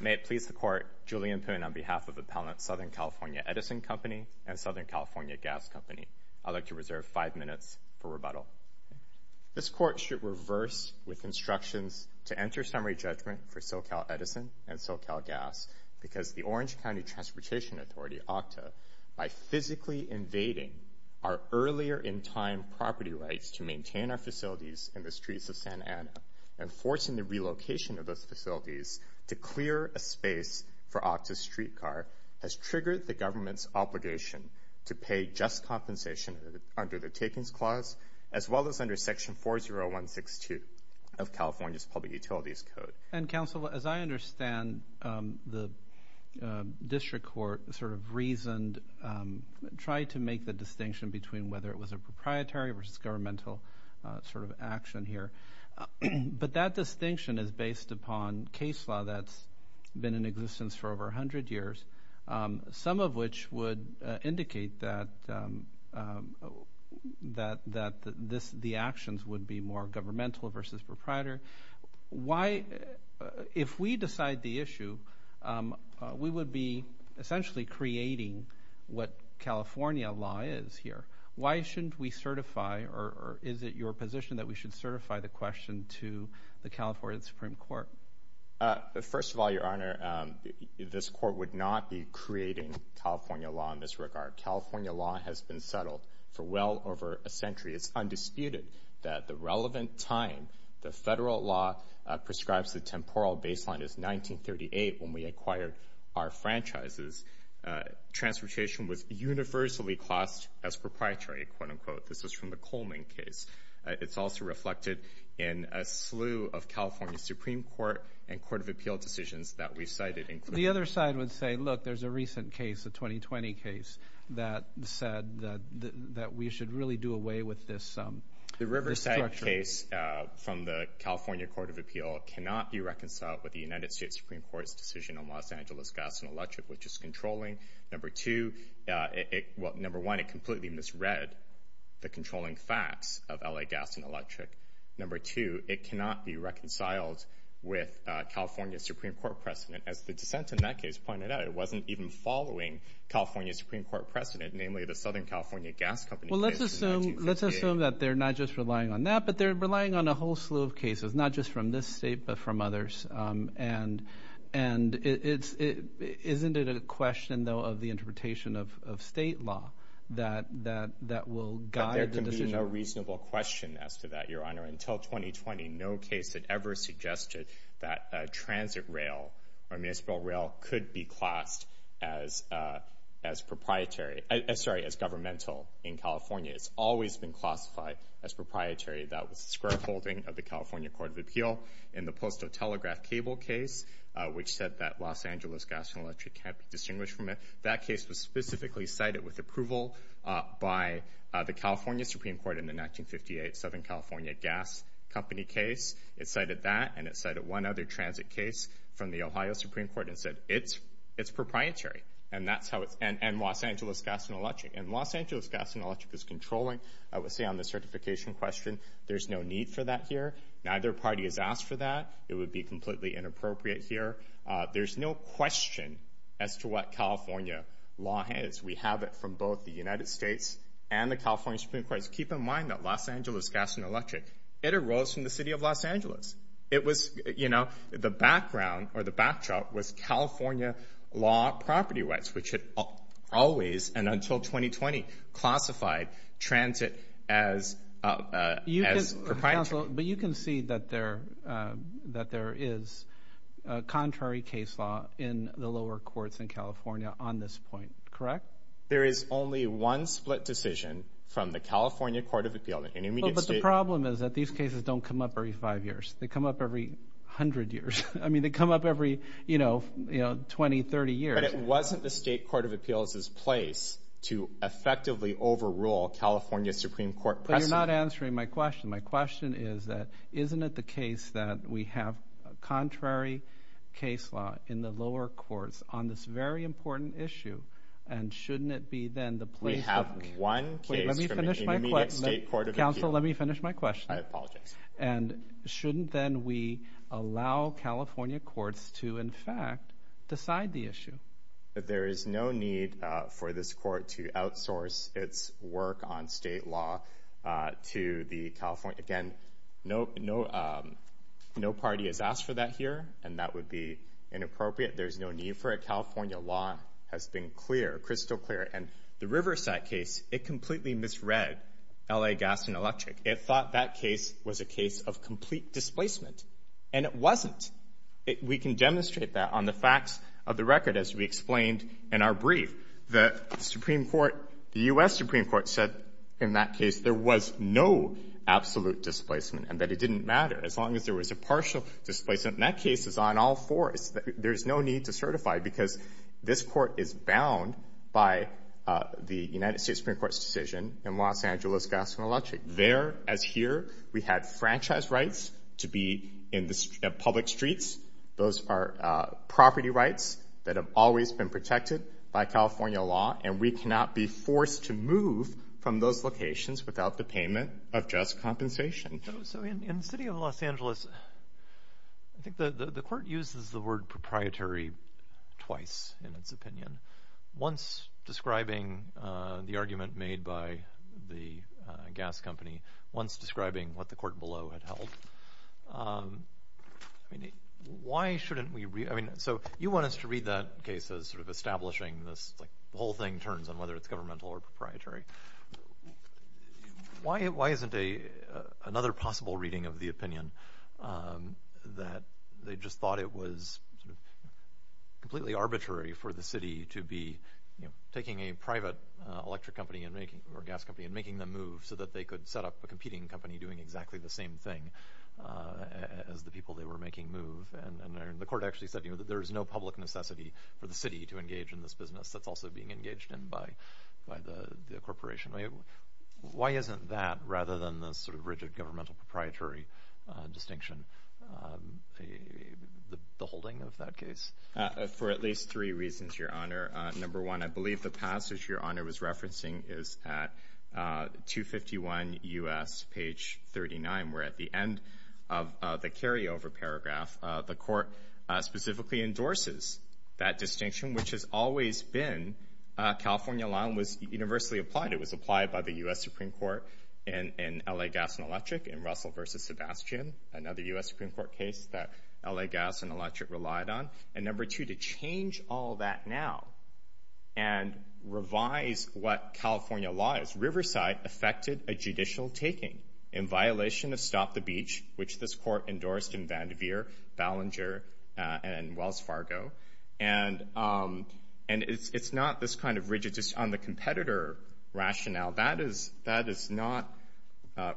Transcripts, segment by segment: May it please the court, Julian Poon on behalf of Appellant Southern California Edison Company and Southern California Gas Company, I'd like to reserve five minutes for rebuttal. This court should reverse with instructions to enter summary judgment for SoCal Edison and SoCal Gas because the Orange County Transportation Authority, OCTA, by physically invading our Santa Ana and forcing the relocation of those facilities to clear a space for OCTA's streetcar has triggered the government's obligation to pay just compensation under the Takings Clause as well as under Section 40162 of California's Public Utilities Code. And counsel, as I understand, the district court sort of reasoned, tried to make the But that distinction is based upon case law that's been in existence for over 100 years, some of which would indicate that the actions would be more governmental versus proprietor. If we decide the issue, we would be essentially creating what California law is here. Why shouldn't we certify, or is it your position that we should certify the question to the California Supreme Court? First of all, Your Honor, this court would not be creating California law in this regard. California law has been settled for well over a century. It's undisputed that the relevant time the federal law prescribes the temporal baseline is 1938, when we acquired our franchises, transportation was universally classed as proprietary, quote-unquote. This is from the Coleman case. It's also reflected in a slew of California Supreme Court and Court of Appeal decisions that we've cited, including The other side would say, look, there's a recent case, a 2020 case, that said that we should really do away with this structure. This case from the California Court of Appeal cannot be reconciled with the United States Supreme Court's decision on Los Angeles gas and electric, which is controlling, number one, it completely misread the controlling facts of L.A. gas and electric. Number two, it cannot be reconciled with California Supreme Court precedent. As the dissent in that case pointed out, it wasn't even following California Supreme Court precedent, namely the Southern California Gas Company case in 1938. Let's assume that they're not just relying on that, but they're relying on a whole slew of cases, not just from this state, but from others. And and it's it isn't it a question, though, of the interpretation of state law that that that will guide the decision? A reasonable question as to that, your honor. Until 2020, no case that ever suggested that transit rail or municipal rail could be classed as as proprietary. Sorry, as governmental in California. It's always been classified as proprietary. That was the square folding of the California Court of Appeal in the postal telegraph cable case, which said that Los Angeles gas and electric can't be distinguished from it. That case was specifically cited with approval by the California Supreme Court in the 1958 Southern California Gas Company case. It cited that and it cited one other transit case from the Ohio Supreme Court and said it's it's proprietary. And that's how it's and Los Angeles gas and electric and Los Angeles gas and electric is controlling. I would say on the certification question, there's no need for that here. Neither party has asked for that. It would be completely inappropriate here. There's no question as to what California law has. We have it from both the United States and the California Supreme Court. Keep in mind that Los Angeles gas and electric, it arose from the city of Los Angeles. It was, you know, the background or the backdrop was California law property rights, which had always and until 2020 classified transit as you as a council. But you can see that there that there is a contrary case law in the lower courts in California on this point. Correct. There is only one split decision from the California Court of Appeal. But the problem is that these cases don't come up every five years. They come up every hundred years. I mean, they come up every, you know, you know, 20, 30 years. But it wasn't the state court of appeals is place to effectively overrule California Supreme Court. But you're not answering my question. My question is that isn't it the case that we have a contrary case law in the lower courts on this very important issue? And shouldn't it be then the play? I have one. Let me finish my court of counsel. Let me finish my question. I apologize. And shouldn't then we allow California courts to, in fact, decide the issue that there is no need for this court to outsource its work on state law to the California? Again, no, no, no party has asked for that here. And that would be inappropriate. There's no need for a California law has been clear, crystal clear. And the Riverside case, it completely misread L.A. Gas and Electric. It thought that case was a case of complete displacement. And it wasn't. We can demonstrate that on the facts of the record. As we explained in our brief, the Supreme Court, the U.S. Supreme Court said in that case there was no absolute displacement and that it didn't matter as long as there was a partial displacement. And that case is on all fours. There's no need to certify because this court is bound by the United States Supreme Court's decision in Los Angeles. Gas and Electric there. As here, we had franchise rights to be in the public streets. Those are property rights that have always been protected by California law. And we cannot be forced to move from those locations without the payment of just compensation. So in the city of Los Angeles, I think the court uses the word proprietary twice in its opinion. Once describing the argument made by the gas company. Once describing what the court below had held. Why shouldn't we? I mean, so you want us to read that case as sort of establishing this whole thing turns on whether it's governmental or proprietary. Why isn't another possible reading of the opinion that they just thought it was completely arbitrary for the city to be taking a private electric company or gas company and making them move so that they could set up a competing company doing exactly the same thing as the people they were making move. And the court actually said there is no public necessity for the city to engage in this business. That's also being engaged in by the corporation. Why isn't that, rather than the sort of rigid governmental proprietary distinction, the holding of that case? For at least three reasons, Your Honor. Number one, I believe the passage Your Honor was referencing is at 251 U.S. page 39, where at the end of the carryover paragraph, the court specifically endorses that distinction, which has always been. California law was universally applied. It was applied by the U.S. Supreme Court and L.A. Gas and Electric and Russell versus Sebastian, another U.S. Supreme Court case that L.A. Gas and Electric relied on. And number two, to change all that now and revise what California law is, Riverside effected a judicial taking in violation of Stop the Beach, which this court endorsed in Vandevere, Ballinger, and Wells Fargo. And it's not this kind of rigid on the competitor rationale. That is not,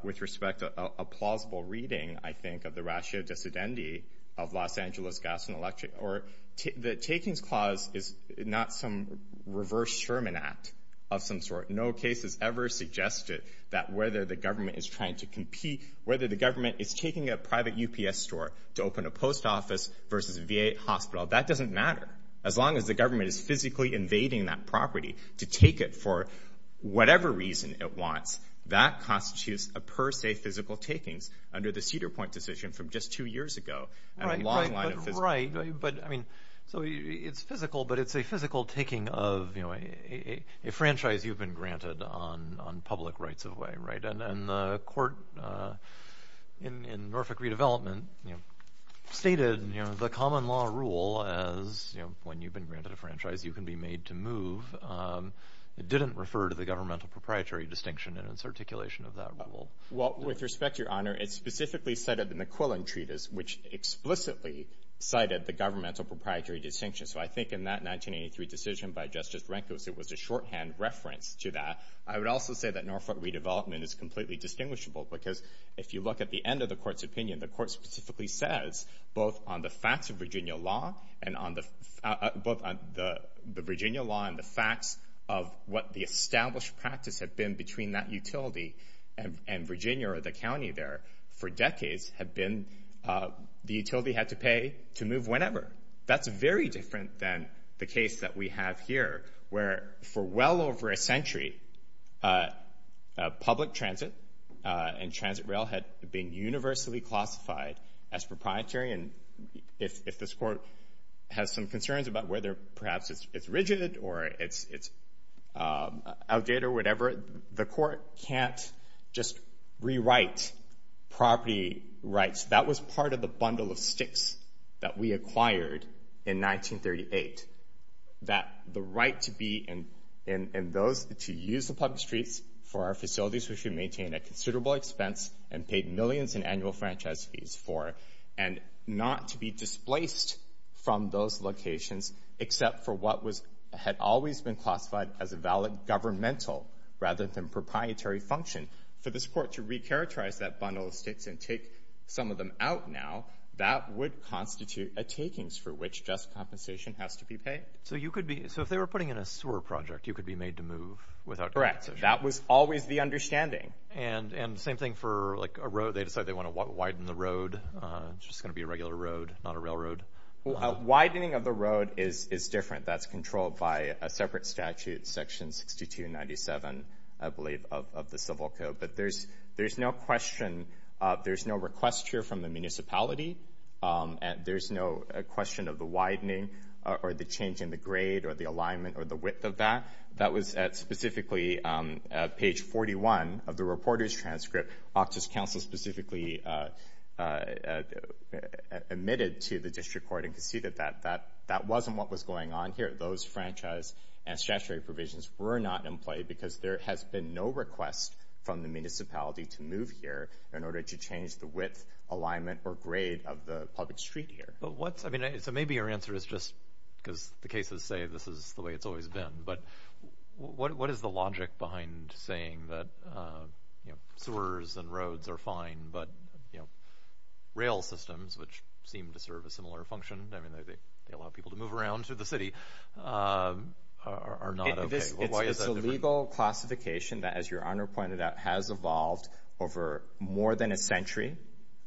with respect to a plausible reading, I think, of the ratio dissidentity of Los Angeles Gas and Electric. The takings clause is not some reverse Sherman Act of some sort. No case has ever suggested that whether the government is trying to compete, whether the government is taking a private UPS store to open a post office versus a VA hospital, that doesn't matter. As long as the government is physically invading that property to take it for whatever reason it wants, that constitutes a per se physical takings under the Cedar Point decision from just two years ago. So it's physical, but it's a physical taking of a franchise you've been granted on public rights of way. And the court in Norfolk Redevelopment stated the common law rule as when you've been granted a franchise, you can be made to move. It didn't refer to the governmental proprietary distinction in its articulation of that rule. Well, with respect, Your Honor, it's specifically cited in the Quillen Treatise, which explicitly cited the governmental proprietary distinction. So I think in that 1983 decision by Justice Rehnquist, it was a shorthand reference to that. I would also say that Norfolk Redevelopment is completely distinguishable, because if you look at the end of the court's opinion, the court specifically says both on the facts of Virginia law and on the both on the Virginia law and the facts of what the established practice had been between that utility and Virginia or the county there for decades had been the utility had to pay to move whenever. That's very different than the case that we have here, where for well over a century, public transit and transit rail had been universally classified as proprietary. And if this court has some concerns about whether perhaps it's rigid or it's outdated or whatever, the court can't just rewrite property rights. That was part of the bundle of sticks that we acquired in 1938, that the right to be in those to use the public streets for our facilities, which we maintain a considerable expense and paid millions in annual franchise fees for and not to be displaced from those locations, except for what was had always been classified as a valid governmental rather than proprietary function. For this court to recharacterize that bundle of sticks and take some of them out now, that would constitute a takings for which just compensation has to be paid. So if they were putting in a sewer project, you could be made to move without compensation? Correct. That was always the understanding. And same thing for a road. They decide they want to widen the road. It's just going to be a regular road, not a railroad. Widening of the road is different. That's controlled by a separate statute, section 6297, I believe, of the Civil Code. But there's no question, there's no request here from the municipality. There's no question of the widening or the change in the grade or the alignment or the width of that. That was at specifically page 41 of the reporter's transcript. Okta's counsel specifically admitted to the district court and conceded that that wasn't what was going on here. Those franchise and statutory provisions were not in play because there has been no request from the municipality to move here in order to change the width, alignment, or grade of the public street here. So maybe your answer is just because the cases say this is the way it's always been. But what is the logic behind saying that sewers and roads are fine, but rail systems, which seem to serve a similar function, they allow people to move around through the city, are not okay? It's a legal classification that, as your Honor pointed out, has evolved over more than a century.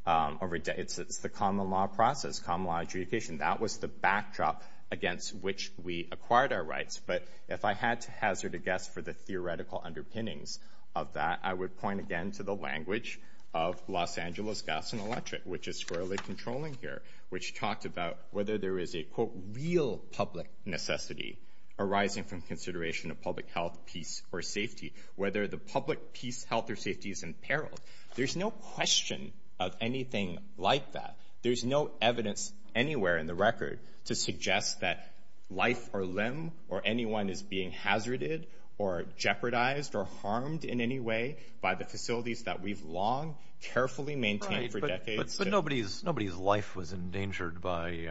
It's the common law process, common law adjudication. That was the backdrop against which we acquired our rights. But if I had to hazard a guess for the theoretical underpinnings of that, I would point again to the language of Los Angeles Gas and Electric, which is squarely controlling here, which talked about whether there is a, quote, real public necessity arising from consideration of public health, peace, or safety, whether the public peace, health, or safety is imperiled. There's no question of anything like that. There's no evidence anywhere in the record to suggest that life or limb or anyone is being hazarded or jeopardized or harmed in any way by the facilities that we've long carefully maintained for decades. But nobody's life was endangered by,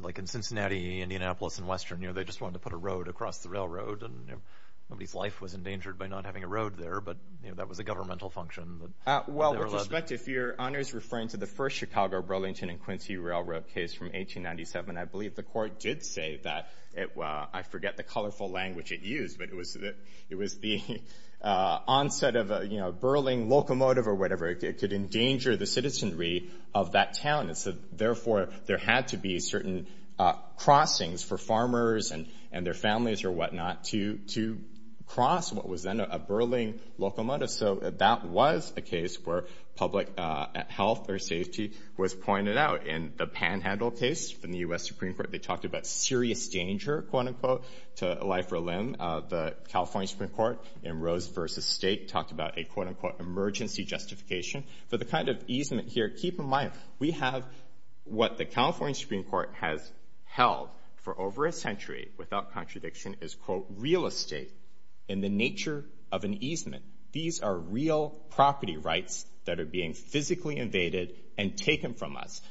like in Cincinnati, Indianapolis, and Western. They just wanted to put a road across the railroad. Nobody's life was endangered by not having a road there, but that was a governmental function. Well, with respect, if your Honor is referring to the first Chicago Burlington and Quincy Railroad case from 1897, I believe the court did say that. I forget the colorful language it used, but it was the onset of a Burling locomotive or whatever. It could endanger the citizenry of that town. And so, therefore, there had to be certain crossings for farmers and their families or whatnot to cross what was then a Burling locomotive. So that was a case where public health or safety was pointed out. In the Panhandle case from the U.S. Supreme Court, they talked about serious danger, quote, unquote, to life or limb. The California Supreme Court in Rose v. Stake talked about a, quote, unquote, emergency justification. For the kind of easement here, keep in mind, we have what the California Supreme Court has held for over a century, without contradiction, is, quote, real estate in the nature of an easement. These are real property rights that are being physically invaded and taken from us,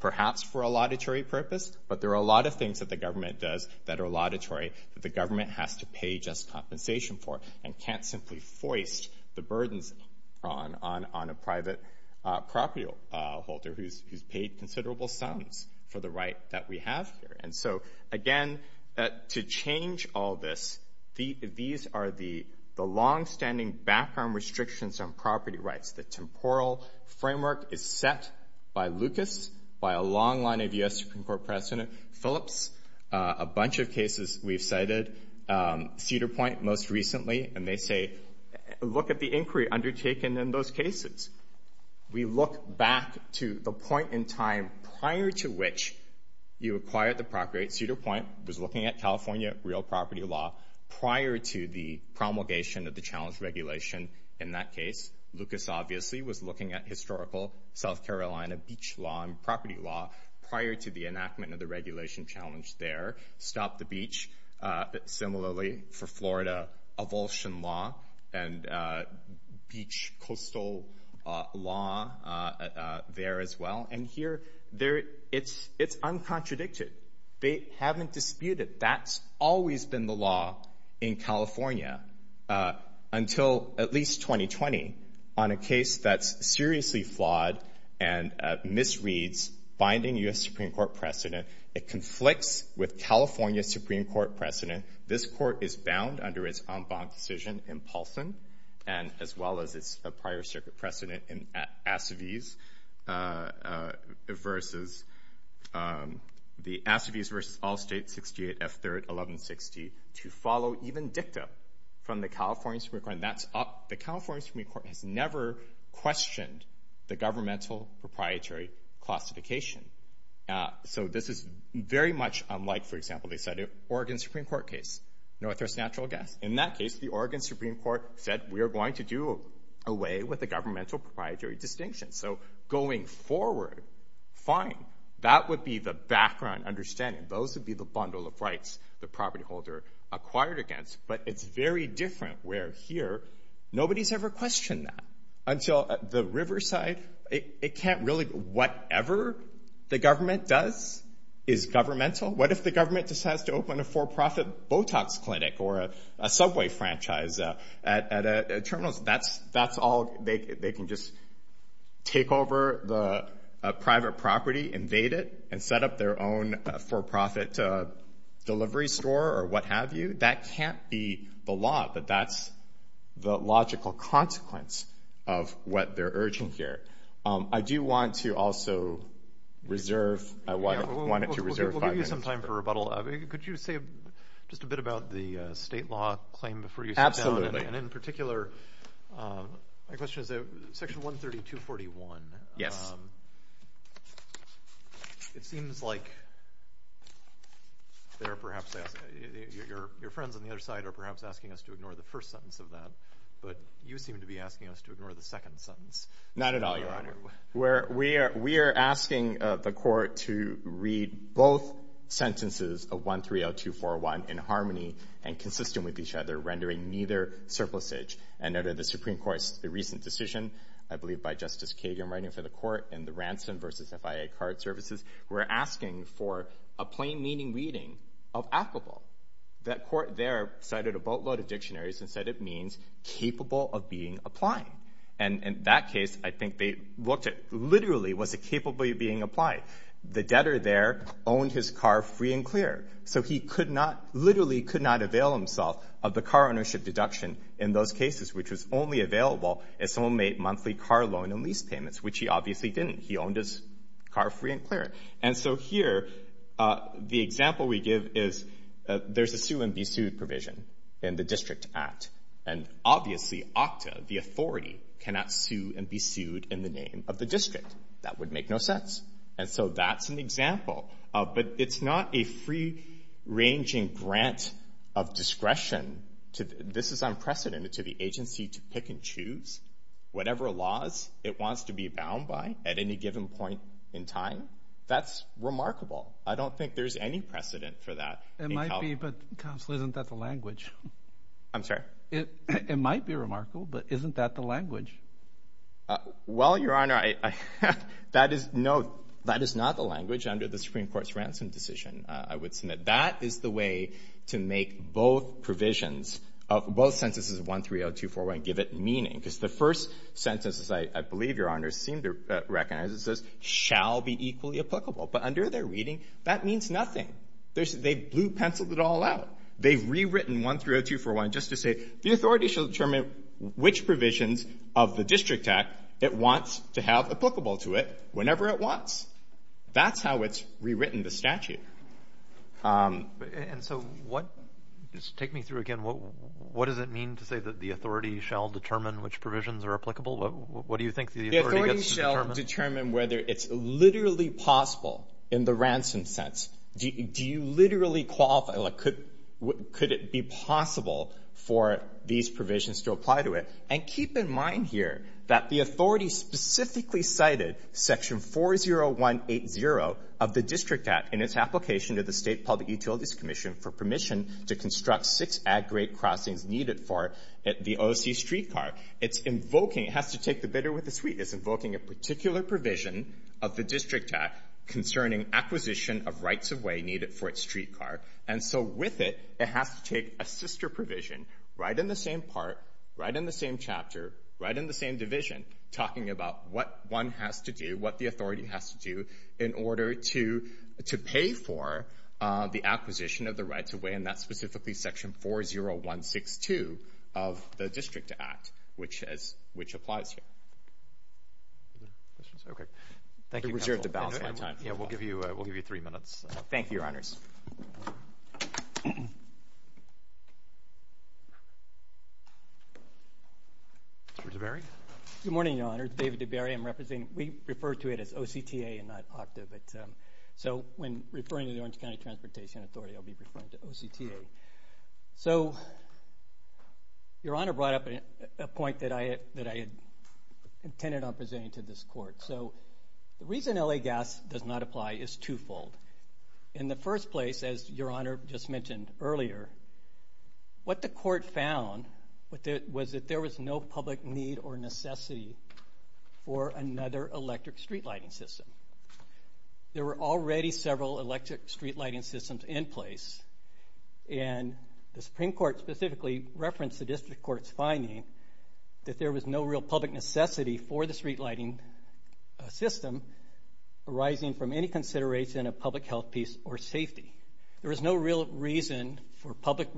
perhaps for a laudatory purpose, but there are a lot of things that the government does that are laudatory that the government has to pay just compensation for and can't simply foist the burdens on a private property holder who's paid considerable sums for the right that we have here. And so, again, to change all this, these are the longstanding background restrictions on property rights. The temporal framework is set by Lucas, by a long line of U.S. Supreme Court President Phillips, a bunch of cases we've cited. Cedar Point, most recently, and they say, look at the inquiry undertaken in those cases. We look back to the point in time prior to which you acquired the property rights. Cedar Point was looking at California real property law prior to the promulgation of the challenge regulation in that case. Lucas, obviously, was looking at historical South Carolina beach law and property law prior to the enactment of the regulation challenge there. Stop the Beach, similarly, for Florida, avulsion law and beach coastal law there as well. And here, it's uncontradicted. They haven't disputed. That's always been the law in California until at least 2020 on a case that's seriously flawed and misreads binding U.S. Supreme Court precedent. It conflicts with California Supreme Court precedent. This court is bound under its en banc decision in Paulson and as well as its prior circuit precedent in Assaviz versus the Assaviz versus Allstate 68 F3rd 1160 to follow even dicta from the California Supreme Court. And that's up. The California Supreme Court has never questioned the governmental proprietary classification. So this is very much unlike, for example, they said it Oregon Supreme Court case, Northwest natural gas. In that case, the Oregon Supreme Court said we are going to do away with the governmental proprietary distinction. So going forward, fine. That would be the background understanding. Those would be the bundle of rights the property holder acquired against. But it's very different where here nobody's ever questioned that until the riverside. It can't really. Whatever the government does is governmental. What if the government decides to open a for-profit Botox clinic or a subway franchise at a terminal? That's all. They can just take over the private property, invade it, and set up their own for-profit delivery store or what have you. That can't be the law, but that's the logical consequence of what they're urging here. I do want to also reserve. I want it to reserve. We'll give you some time for rebuttal. Could you say just a bit about the state law claim before you sit down? Absolutely. Yes. It seems like your friends on the other side are perhaps asking us to ignore the first sentence of that, but you seem to be asking us to ignore the second sentence. Not at all, Your Honor. We are asking the court to read both sentences of 130241 in harmony and consistent with each other, rendering neither surplusage. And under the Supreme Court's recent decision, I believe by Justice Kagan writing for the court in the Ransom versus FIA Card Services, we're asking for a plain meaning reading of applicable. That court there cited a boatload of dictionaries and said it means capable of being applied. And in that case, I think they looked at literally was it capable of being applied. The debtor there owned his car free and clear. So he literally could not avail himself of the car ownership deduction in those cases, which was only available if someone made monthly car loan and lease payments, which he obviously didn't. He owned his car free and clear. And so here, the example we give is there's a sue and be sued provision in the District Act. And obviously, OCTA, the authority, cannot sue and be sued in the name of the district. That would make no sense. And so that's an example. But it's not a free-ranging grant of discretion. This is unprecedented to the agency to pick and choose whatever laws it wants to be bound by at any given point in time. That's remarkable. I don't think there's any precedent for that. It might be, but Counsel, isn't that the language? I'm sorry? It might be remarkable, but isn't that the language? Well, Your Honor, that is not the language under the Supreme Court's ransom decision, I would submit. That is the way to make both provisions of both sentences, 130241, give it meaning. Because the first sentence, as I believe Your Honor seemed to recognize, it says, shall be equally applicable. But under their reading, that means nothing. They blue-penciled it all out. They've rewritten 130241 just to say the authority shall determine which provisions of the District Act it wants to have applicable to it whenever it wants. That's how it's rewritten the statute. And so what – just take me through again. What does it mean to say that the authority shall determine which provisions are applicable? What do you think the authority gets to determine? The authority shall determine whether it's literally possible in the ransom sense. Do you literally qualify? Like, could it be possible for these provisions to apply to it? And keep in mind here that the authority specifically cited Section 40180 of the District Act in its application to the State Public Utilities Commission for permission to construct six ag-grade crossings needed for the O.C. streetcar. It's invoking – it has to take the bitter with the sweet. It's invoking a particular provision of the District Act concerning acquisition of rights-of-way needed for its streetcar. And so with it, it has to take a sister provision right in the same part, right in the same chapter, right in the same division, talking about what one has to do, what the authority has to do, in order to pay for the acquisition of the rights-of-way. And that's specifically Section 40162 of the District Act, which applies here. Okay. Thank you, Counsel. I reserve the balance of my time. Yeah, we'll give you three minutes. Thank you, Your Honors. Mr. DeBerry? Good morning, Your Honors. David DeBerry. I'm representing – we refer to it as O.C.T.A. and not OCTA. So when referring to the Orange County Transportation Authority, I'll be referring to O.C.T.A. So Your Honor brought up a point that I had intended on presenting to this Court. So the reason L.A. gas does not apply is twofold. In the first place, as Your Honor just mentioned earlier, what the Court found was that there was no public need or necessity for another electric streetlighting system. There were already several electric streetlighting systems in place, and the Supreme Court specifically referenced the District Court's finding that there was no real public necessity for the streetlighting system arising from any consideration of public health, peace, or safety. There was no real reason for public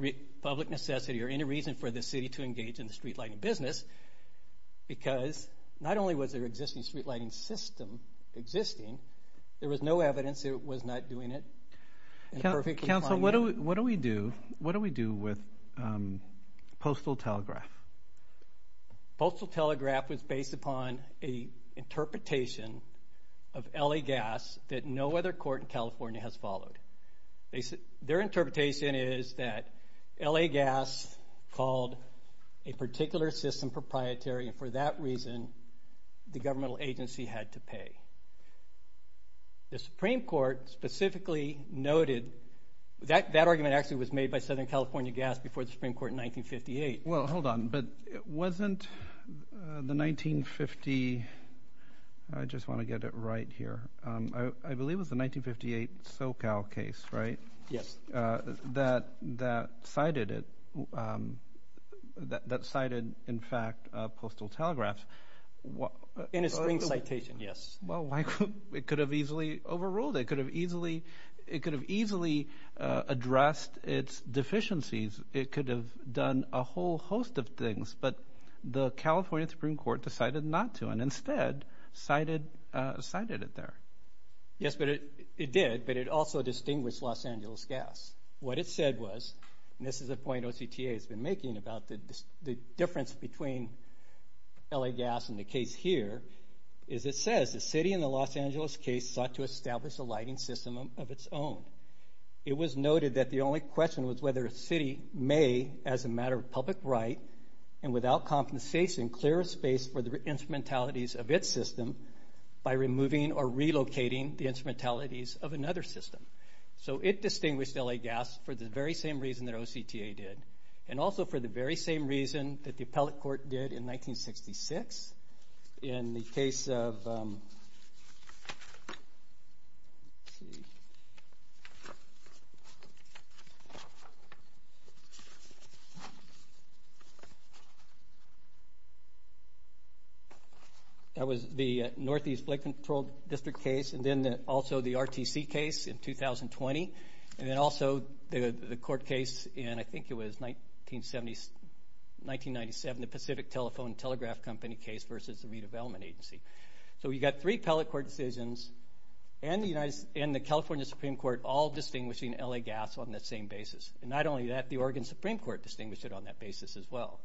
necessity or any reason for the City to engage in the streetlighting business, because not only was their existing streetlighting system existing, there was no evidence that it was not doing it in a perfectly fine way. Counsel, what do we do? What do we do with postal telegraph? Postal telegraph was based upon an interpretation of L.A. gas that no other court in California has followed. Their interpretation is that L.A. gas called a particular system proprietary, and for that reason the governmental agency had to pay. The Supreme Court specifically noted that that argument actually was made by Southern California Gas before the Supreme Court in 1958. Well, hold on. But wasn't the 1950—I just want to get it right here. I believe it was the 1958 SoCal case, right? Yes. That cited, in fact, postal telegraph. In a spring citation, yes. Well, it could have easily overruled. It could have easily addressed its deficiencies. It could have done a whole host of things, but the California Supreme Court decided not to and instead cited it there. Yes, it did, but it also distinguished Los Angeles Gas. What it said was, and this is a point OCTA has been making about the difference between L.A. gas and the case here, is it says the city in the Los Angeles case sought to establish a lighting system of its own. It was noted that the only question was whether a city may, as a matter of public right and without compensation, clear a space for the instrumentalities of its system by removing or relocating the instrumentalities of another system. So it distinguished L.A. gas for the very same reason that OCTA did and also for the very same reason that the appellate court did in 1966 in the case of... That was the Northeast Flight Control District case and then also the RTC case in 2020 and then also the court case in, I think it was, 1997, the Pacific Telephone and Telegraph Company case versus the Redevelopment Agency. So we got three appellate court decisions and the California Supreme Court all distinguishing L.A. gas on that same basis. And not only that, the Oregon Supreme Court distinguished it on that basis as well.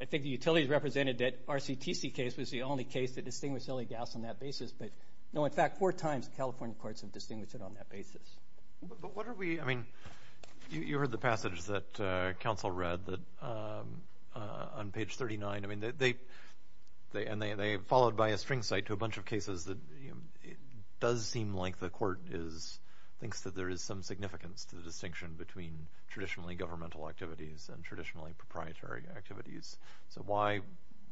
I think the utilities represented that RCTC case was the only case that distinguished L.A. gas on that basis, but, no, in fact, four times California courts have distinguished it on that basis. But what are we... You heard the passage that counsel read on page 39, and they followed by a string cite to a bunch of cases that it does seem like the court thinks that there is some significance to the distinction between traditionally governmental activities and traditionally proprietary activities. So why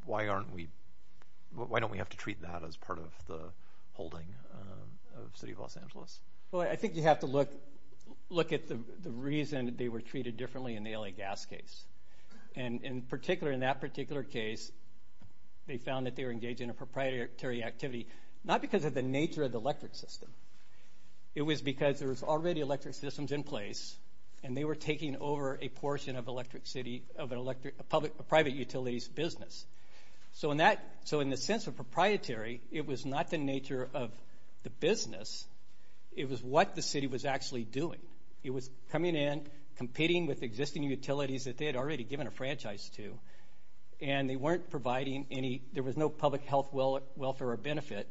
don't we have to treat that as part of the holding of the City of Los Angeles? Well, I think you have to look at the reason they were treated differently in the L.A. gas case. And, in particular, in that particular case, they found that they were engaged in a proprietary activity not because of the nature of the electric system. It was because there was already electric systems in place and they were taking over a portion of a private utility's business. So in the sense of proprietary, it was not the nature of the business. It was what the city was actually doing. It was coming in, competing with existing utilities that they had already given a franchise to, and they weren't providing any... There was no public health, welfare, or benefit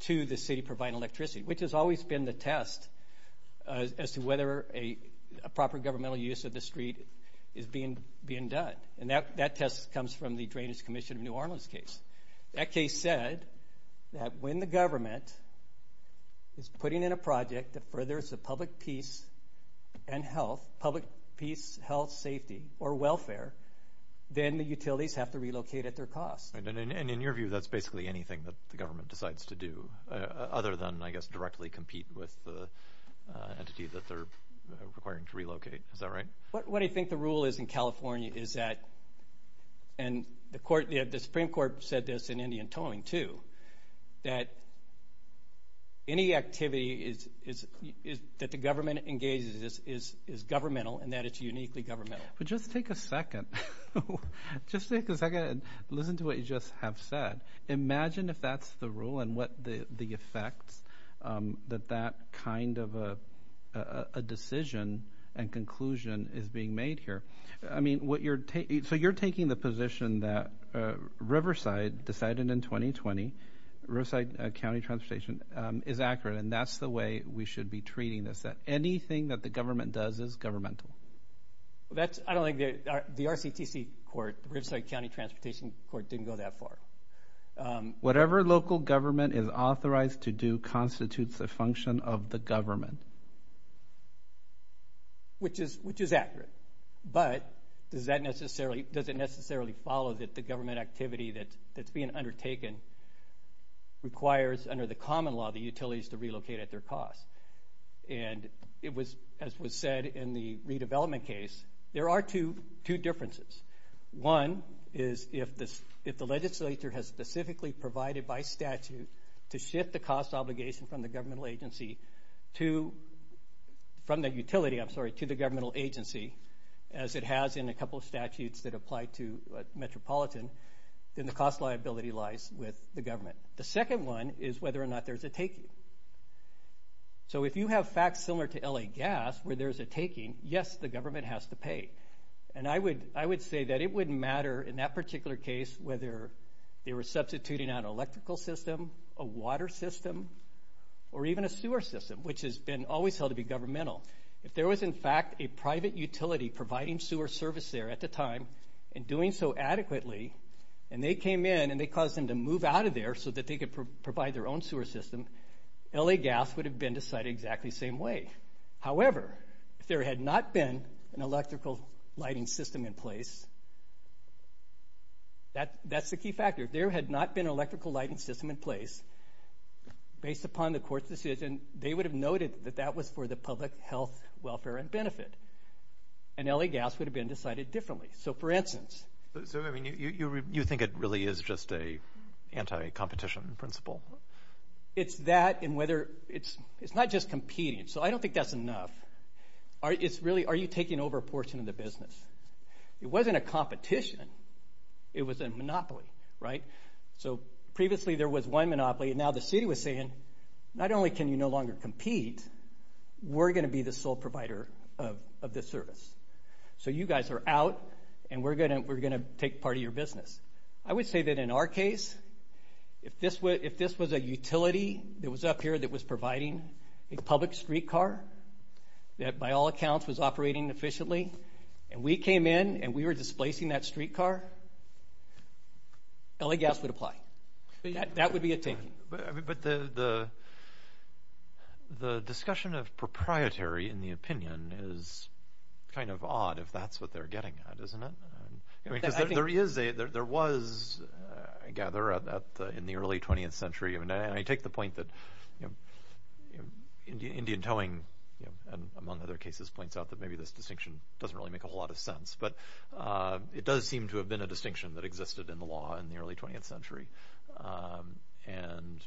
to the city providing electricity, which has always been the test as to whether a proper governmental use of the street is being done. And that test comes from the Drainage Commission of New Orleans case. That case said that when the government is putting in a project that furthers the public peace and health, public peace, health, safety, or welfare, then the utilities have to relocate at their cost. And in your view, that's basically anything that the government decides to do, other than, I guess, directly compete with the entity that they're requiring to relocate. Is that right? What I think the rule is in California is that... The Supreme Court said this in Indian Towing too, that any activity that the government engages is governmental and that it's uniquely governmental. But just take a second. Just take a second and listen to what you just have said. Imagine if that's the rule and what the effects that that kind of a decision and conclusion is being made here. So you're taking the position that Riverside decided in 2020, Riverside County Transportation, is accurate, and that's the way we should be treating this, that anything that the government does is governmental. I don't think the RCTC court, the Riverside County Transportation court, didn't go that far. Whatever local government is authorized to do constitutes a function of the government. Which is accurate. But does it necessarily follow that the government activity that's being undertaken requires, under the common law, the utilities to relocate at their cost? And as was said in the redevelopment case, there are two differences. One is if the legislature has specifically provided by statute to shift the cost obligation from the governmental agency to the governmental agency, as it has in a couple of statutes that apply to metropolitan, then the cost liability lies with the government. The second one is whether or not there's a taking. So if you have facts similar to LA Gas where there's a taking, yes, the government has to pay. And I would say that it wouldn't matter in that particular case whether they were substituting out an electrical system, a water system, or even a sewer system, which has been always held to be governmental. If there was, in fact, a private utility providing sewer service there at the time and doing so adequately, and they came in and they caused them to move out of there so that they could provide their own sewer system, LA Gas would have been decided exactly the same way. However, if there had not been an electrical lighting system in place, that's the key factor. If there had not been an electrical lighting system in place, based upon the court's decision, they would have noted that that was for the public health, welfare, and benefit. And LA Gas would have been decided differently. So, for instance... So, I mean, you think it really is just an anti-competition principle? It's that and whether it's not just competing. So I don't think that's enough. It's really are you taking over a portion of the business? It wasn't a competition. It was a monopoly, right? So previously there was one monopoly, and now the city was saying, not only can you no longer compete, we're going to be the sole provider of this service. So you guys are out, and we're going to take part of your business. I would say that in our case, if this was a utility that was up here that was providing a public streetcar that, by all accounts, was operating efficiently, and we came in and we were displacing that streetcar, LA Gas would apply. That would be a taking. But the discussion of proprietary in the opinion is kind of odd if that's what they're getting at, isn't it? Because there was, I gather, in the early 20th century, and I take the point that Indian Towing, among other cases, points out that maybe this distinction doesn't really make a whole lot of sense, but it does seem to have been a distinction that existed in the law in the early 20th century. And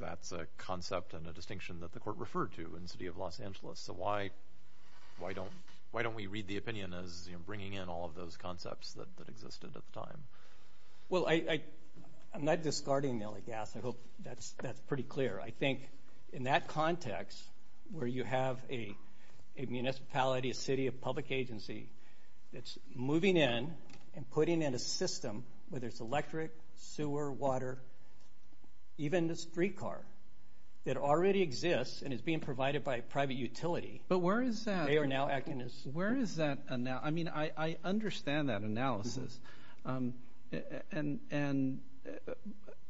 that's a concept and a distinction that the court referred to in the city of Los Angeles. So why don't we read the opinion as bringing in all of those concepts that existed at the time? Well, I'm not discarding LA Gas. I hope that's pretty clear. I think in that context where you have a municipality, a city, a public agency that's moving in and putting in a system, whether it's electric, sewer, water, even a streetcar that already exists and is being provided by a private utility. But where is that? They are now acting as... I mean, I understand that analysis. And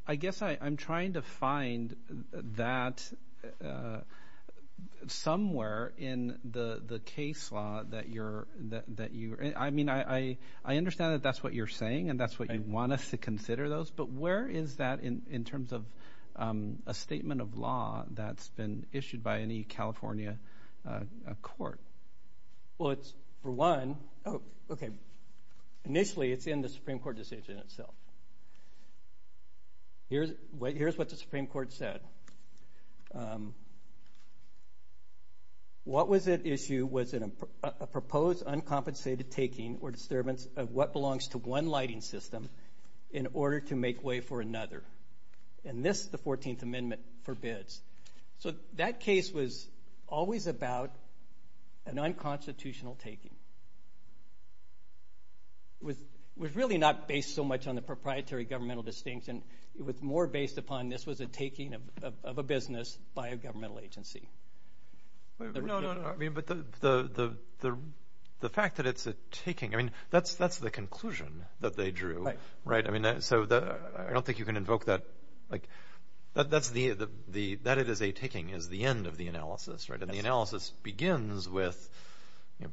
I guess I'm trying to find that somewhere in the case law that you're... I mean, I understand that that's what you're saying and that's what you want us to consider those, but where is that in terms of a statement of law that's been issued by any California court? Well, it's for one... Oh, okay. Initially, it's in the Supreme Court decision itself. Here's what the Supreme Court said. What was at issue was a proposed uncompensated taking or disturbance of what belongs to one lighting system in order to make way for another. And this, the 14th Amendment, forbids. So that case was always about an unconstitutional taking. It was really not based so much on the proprietary governmental distinction. It was more based upon this was a taking of a business by a governmental agency. No, no, no. I mean, but the fact that it's a taking, I mean, that's the conclusion that they drew. Right. Right. I mean, so I don't think you can invoke that. That it is a taking is the end of the analysis, right? And the analysis begins with, I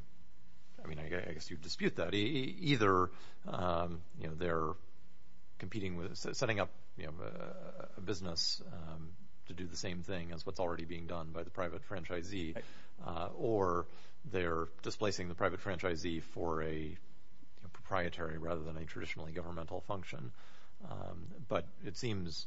mean, I guess you'd dispute that. Either they're competing with setting up a business to do the same thing as what's already being done by the private franchisee, or they're displacing the private franchisee for a proprietary rather than a traditionally governmental function. But it seems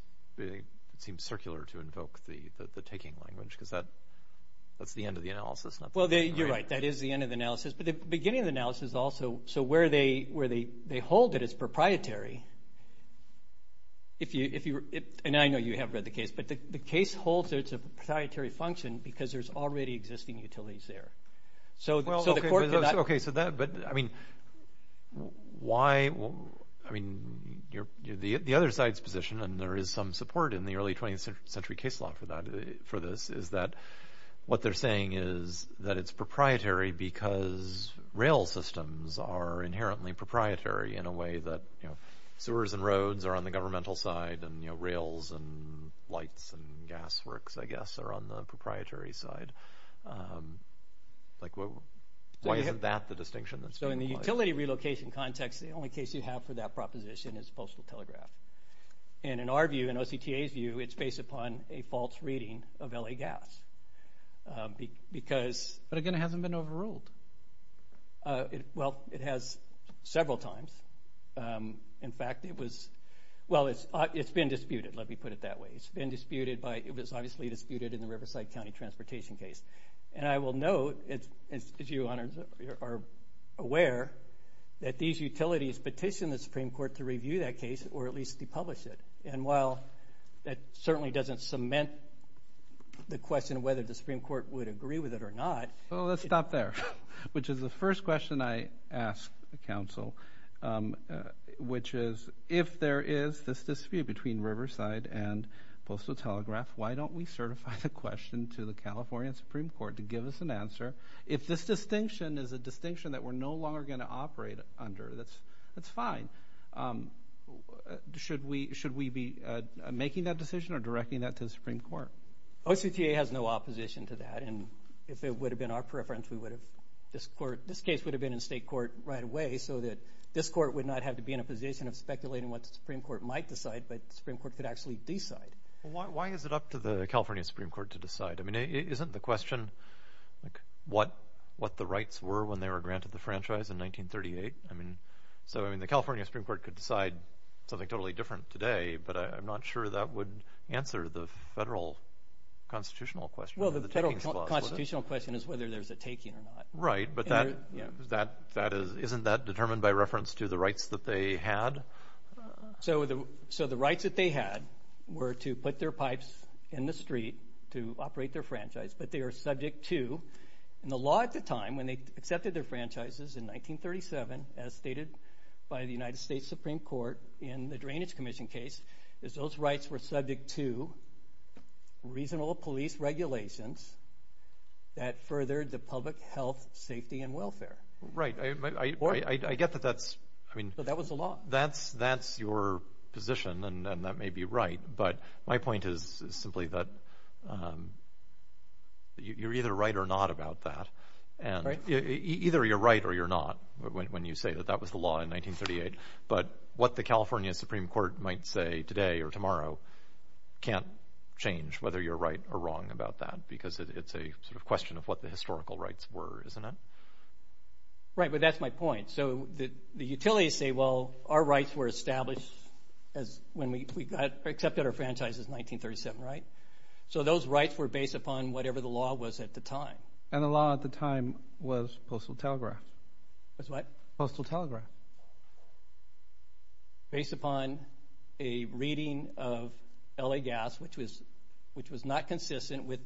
circular to invoke the taking language because that's the end of the analysis. Well, you're right. That is the end of the analysis. But the beginning of the analysis also, so where they hold that it's proprietary, and I know you have read the case, but the case holds that it's a proprietary function because there's already existing utilities there. Okay, so that, but I mean, why, I mean, the other side's position, and there is some support in the early 20th century case law for this, is that what they're saying is that it's proprietary because rail systems are inherently proprietary in a way that, you know, sewers and roads are on the governmental side, and, you know, rails and lights and gas works, I guess, are on the proprietary side. Like, why isn't that the distinction that's being applied? So in the utility relocation context, the only case you have for that proposition is postal telegraph. And in our view, in OCTA's view, it's based upon a false reading of LA Gas. But again, it hasn't been overruled. Well, it has several times. In fact, it was, well, it's been disputed, let me put it that way. It's been disputed by, it was obviously disputed in the Riverside County transportation case. And I will note, as you are aware, that these utilities petitioned the Supreme Court to review that case or at least depublish it. And while that certainly doesn't cement the question of whether the Supreme Court would agree with it or not. Well, let's stop there, which is the first question I ask the Council, which is if there is this dispute between Riverside and postal telegraph, why don't we certify the question to the California Supreme Court to give us an answer? If this distinction is a distinction that we're no longer going to operate under, that's fine. Should we be making that decision or directing that to the Supreme Court? Well, OCTA has no opposition to that. And if it would have been our preference, we would have, this case would have been in state court right away so that this court would not have to be in a position of speculating what the Supreme Court might decide, but the Supreme Court could actually decide. Why is it up to the California Supreme Court to decide? I mean, isn't the question what the rights were when they were granted the franchise in 1938? I mean, so the California Supreme Court could decide something totally different today, but I'm not sure that would answer the federal constitutional question. Well, the federal constitutional question is whether there's a taking or not. Right, but isn't that determined by reference to the rights that they had? So the rights that they had were to put their pipes in the street to operate their franchise, but they are subject to, in the law at the time when they accepted their franchises in 1937, as stated by the United States Supreme Court in the Drainage Commission case, is those rights were subject to reasonable police regulations that furthered the public health, safety, and welfare. Right, I get that that's, I mean. But that was the law. That's your position, and that may be right, but my point is simply that you're either right or not about that. Either you're right or you're not when you say that that was the law in 1938, but what the California Supreme Court might say today or tomorrow can't change whether you're right or wrong about that because it's a sort of question of what the historical rights were, isn't it? Right, but that's my point. So the utilities say, well, our rights were established when we accepted our franchises in 1937, right? So those rights were based upon whatever the law was at the time. And the law at the time was postal telegraph. Was what? Postal telegraph. Based upon a reading of L.A. Gas, which was not consistent with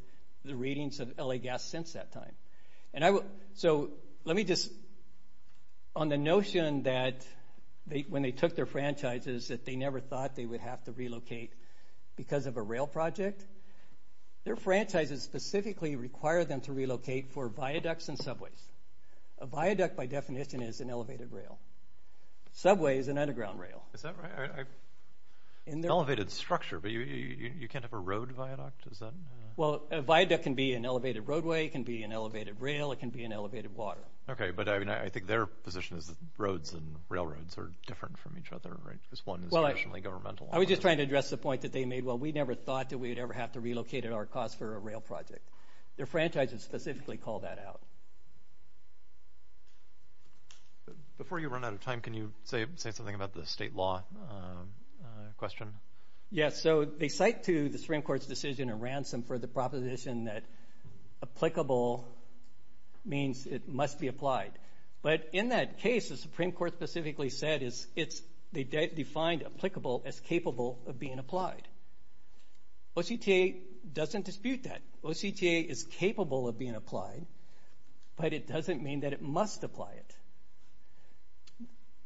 the readings of L.A. Gas since that time. So let me just, on the notion that when they took their franchises, that they never thought they would have to relocate because of a rail project, their franchises specifically require them to relocate for viaducts and subways. A viaduct, by definition, is an elevated rail. Subway is an underground rail. Is that right? An elevated structure, but you can't have a road viaduct? Well, a viaduct can be an elevated roadway, it can be an elevated rail, it can be an elevated water. Okay, but I think their position is that roads and railroads are different from each other, right? Because one is traditionally governmental. I was just trying to address the point that they made. Well, we never thought that we would ever have to relocate at our cost for a rail project. Their franchises specifically call that out. Before you run out of time, can you say something about the state law question? Yes, so they cite to the Supreme Court's decision of ransom for the proposition that applicable means it must be applied. But in that case, the Supreme Court specifically said they defined applicable as capable of being applied. OCTA doesn't dispute that. OCTA is capable of being applied, but it doesn't mean that it must apply it.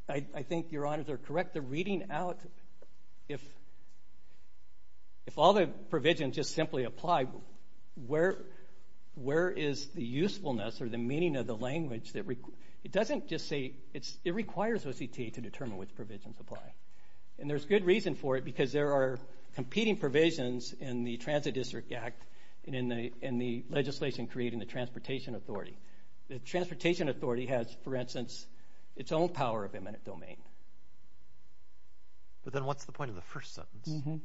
I think Your Honor is correct. The reading out, if all the provisions just simply apply, where is the usefulness or the meaning of the language? It doesn't just say it requires OCTA to determine which provisions apply. And there's good reason for it because there are competing provisions in the Transit District Act and in the legislation creating the Transportation Authority. The Transportation Authority has, for instance, its own power of eminent domain. But then what's the point of the first sentence?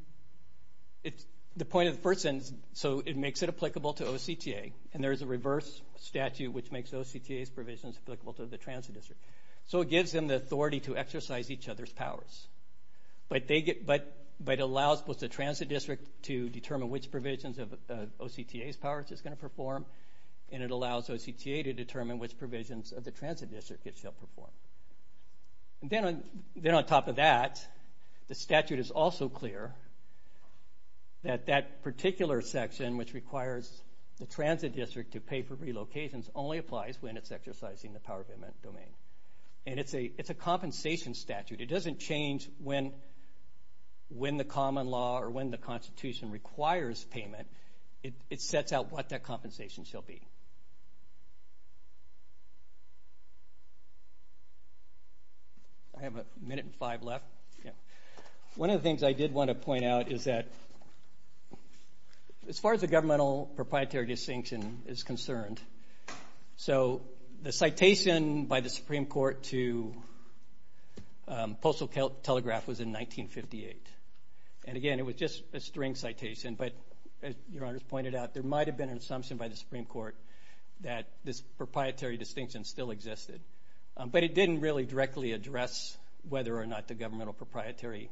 The point of the first sentence, so it makes it applicable to OCTA, and there is a reverse statute which makes OCTA's provisions applicable to the Transit District. So it gives them the authority to exercise each other's powers. But it allows both the Transit District to determine which provisions of OCTA's powers it's going to perform, and it allows OCTA to determine which provisions of the Transit District it shall perform. Then on top of that, the statute is also clear that that particular section, which requires the Transit District to pay for relocations, only applies when it's exercising the power of eminent domain. And it's a compensation statute. It doesn't change when the common law or when the Constitution requires payment. It sets out what that compensation shall be. I have a minute and five left. One of the things I did want to point out is that, as far as the governmental proprietary distinction is concerned, so the citation by the Supreme Court to Postal Telegraph was in 1958. And again, it was just a string citation. But as Your Honors pointed out, there might have been an assumption by the Supreme Court that this proprietary distinction still existed. But it didn't really directly address whether or not the governmental proprietary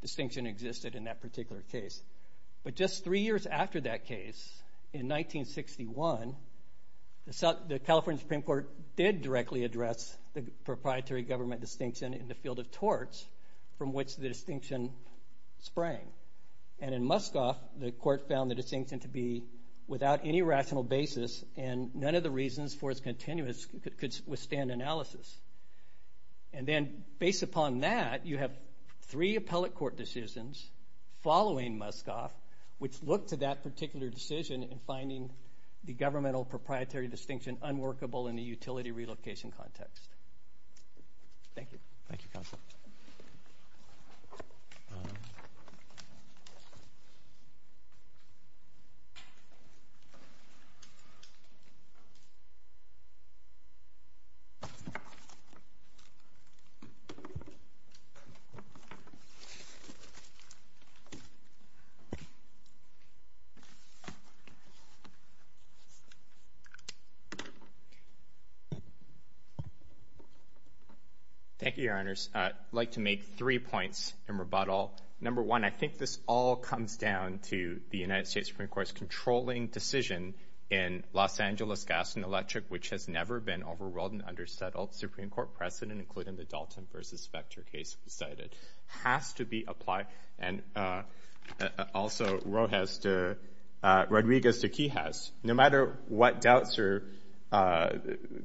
distinction existed in that particular case. But just three years after that case, in 1961, the California Supreme Court did directly address the proprietary government distinction in the field of torts, from which the distinction sprang. And in Muskoff, the court found the distinction to be without any rational basis, and none of the reasons for its continuance could withstand analysis. And then, based upon that, you have three appellate court decisions following Muskoff, which look to that particular decision in finding the governmental proprietary distinction unworkable in the utility relocation context. Thank you. Thank you, counsel. Thank you, Your Honors. I'd like to make three points in rebuttal. Number one, I think this all comes down to the United States Supreme Court's controlling decision in Los Angeles Gas and Electric, which has never been overruled and undersettled. The Supreme Court precedent, including the Dalton v. Vector case cited, has to be applied. And also Rodriguez v. Quijas. No matter what doubts or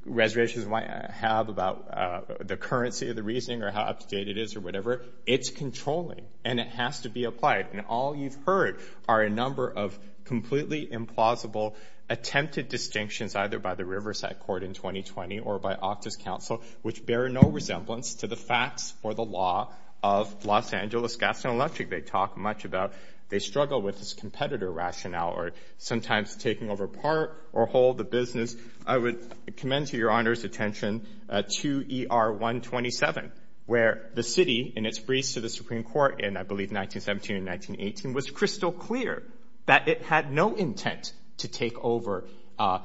reservations you might have about the currency of the reasoning or how up-to-date it is or whatever, it's controlling, and it has to be applied. And all you've heard are a number of completely implausible attempted distinctions, either by the Riverside Court in 2020 or by Octa's counsel, which bear no resemblance to the facts or the law of Los Angeles Gas and Electric. They talk much about they struggle with this competitor rationale or sometimes taking over part or whole the business. I would commend to Your Honor's attention to ER 127, where the city, in its briefs to the Supreme Court in, I believe, 1917 and 1918, was crystal clear that it had no intent to take over the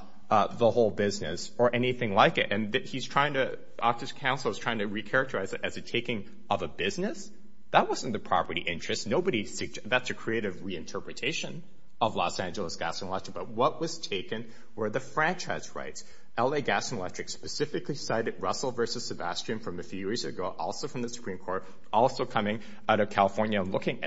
whole business or anything like it. And Octa's counsel is trying to recharacterize it as a taking of a business? That wasn't the property interest. That's a creative reinterpretation of Los Angeles Gas and Electric. But what was taken were the franchise rights. L.A. Gas and Electric specifically cited Russell v. Sebastian from a few years ago, also from the Supreme Court, also coming out of California and looking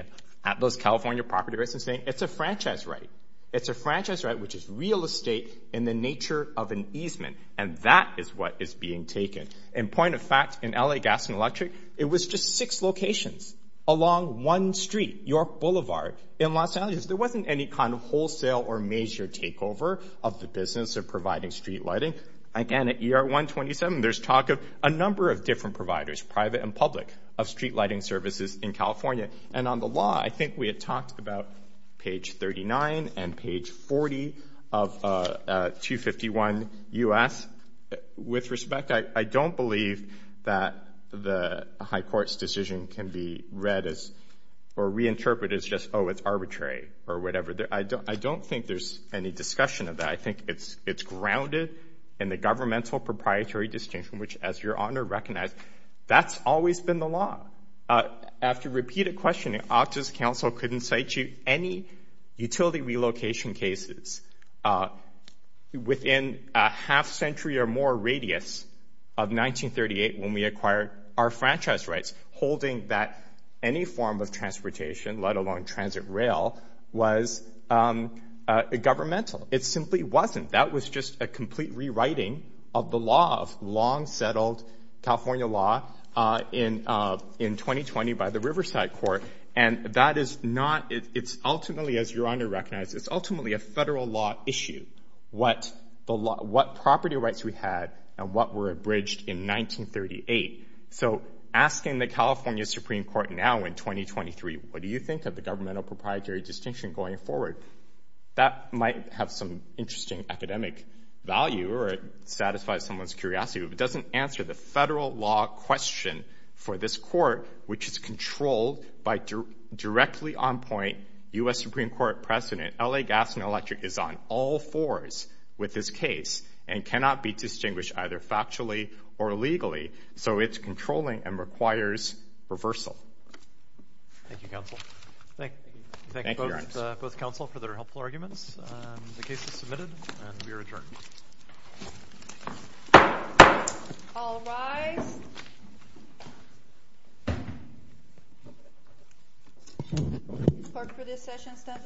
at those California property rights and saying it's a franchise right. It's a franchise right, which is real estate in the nature of an easement. And that is what is being taken. In point of fact, in L.A. Gas and Electric, it was just six locations along one street, York Boulevard, in Los Angeles. There wasn't any kind of wholesale or major takeover of the business of providing street lighting. Again, at ER 127, there's talk of a number of different providers, private and public, of street lighting services in California. And on the law, I think we had talked about page 39 and page 40 of 251 U.S. With respect, I don't believe that the high court's decision can be read as or reinterpreted as just, oh, it's arbitrary or whatever. I don't think there's any discussion of that. I think it's grounded in the governmental proprietary distinction, which, as Your Honor recognized, that's always been the law. After repeated questioning, Octa's counsel couldn't cite you any utility relocation cases within a half-century or more radius of 1938 when we acquired our franchise rights, holding that any form of transportation, let alone transit rail, was governmental. It simply wasn't. That was just a complete rewriting of the law of long-settled California law in 2020 by the Riverside Court. And that is not—it's ultimately, as Your Honor recognized, it's ultimately a federal law issue, what property rights we had and what were abridged in 1938. So asking the California Supreme Court now in 2023, what do you think of the governmental proprietary distinction going forward, that might have some interesting academic value or satisfy someone's curiosity. If it doesn't answer the federal law question for this court, which is controlled by directly on point U.S. Supreme Court precedent, L.A. Gas and Electric is on all fours with this case and cannot be distinguished either factually or legally. So it's controlling and requires reversal. Thank you, counsel. Thank you, Your Honor. We thank both counsel for their helpful arguments. The case is submitted and we are adjourned. All rise. Court for this session stands adjourned.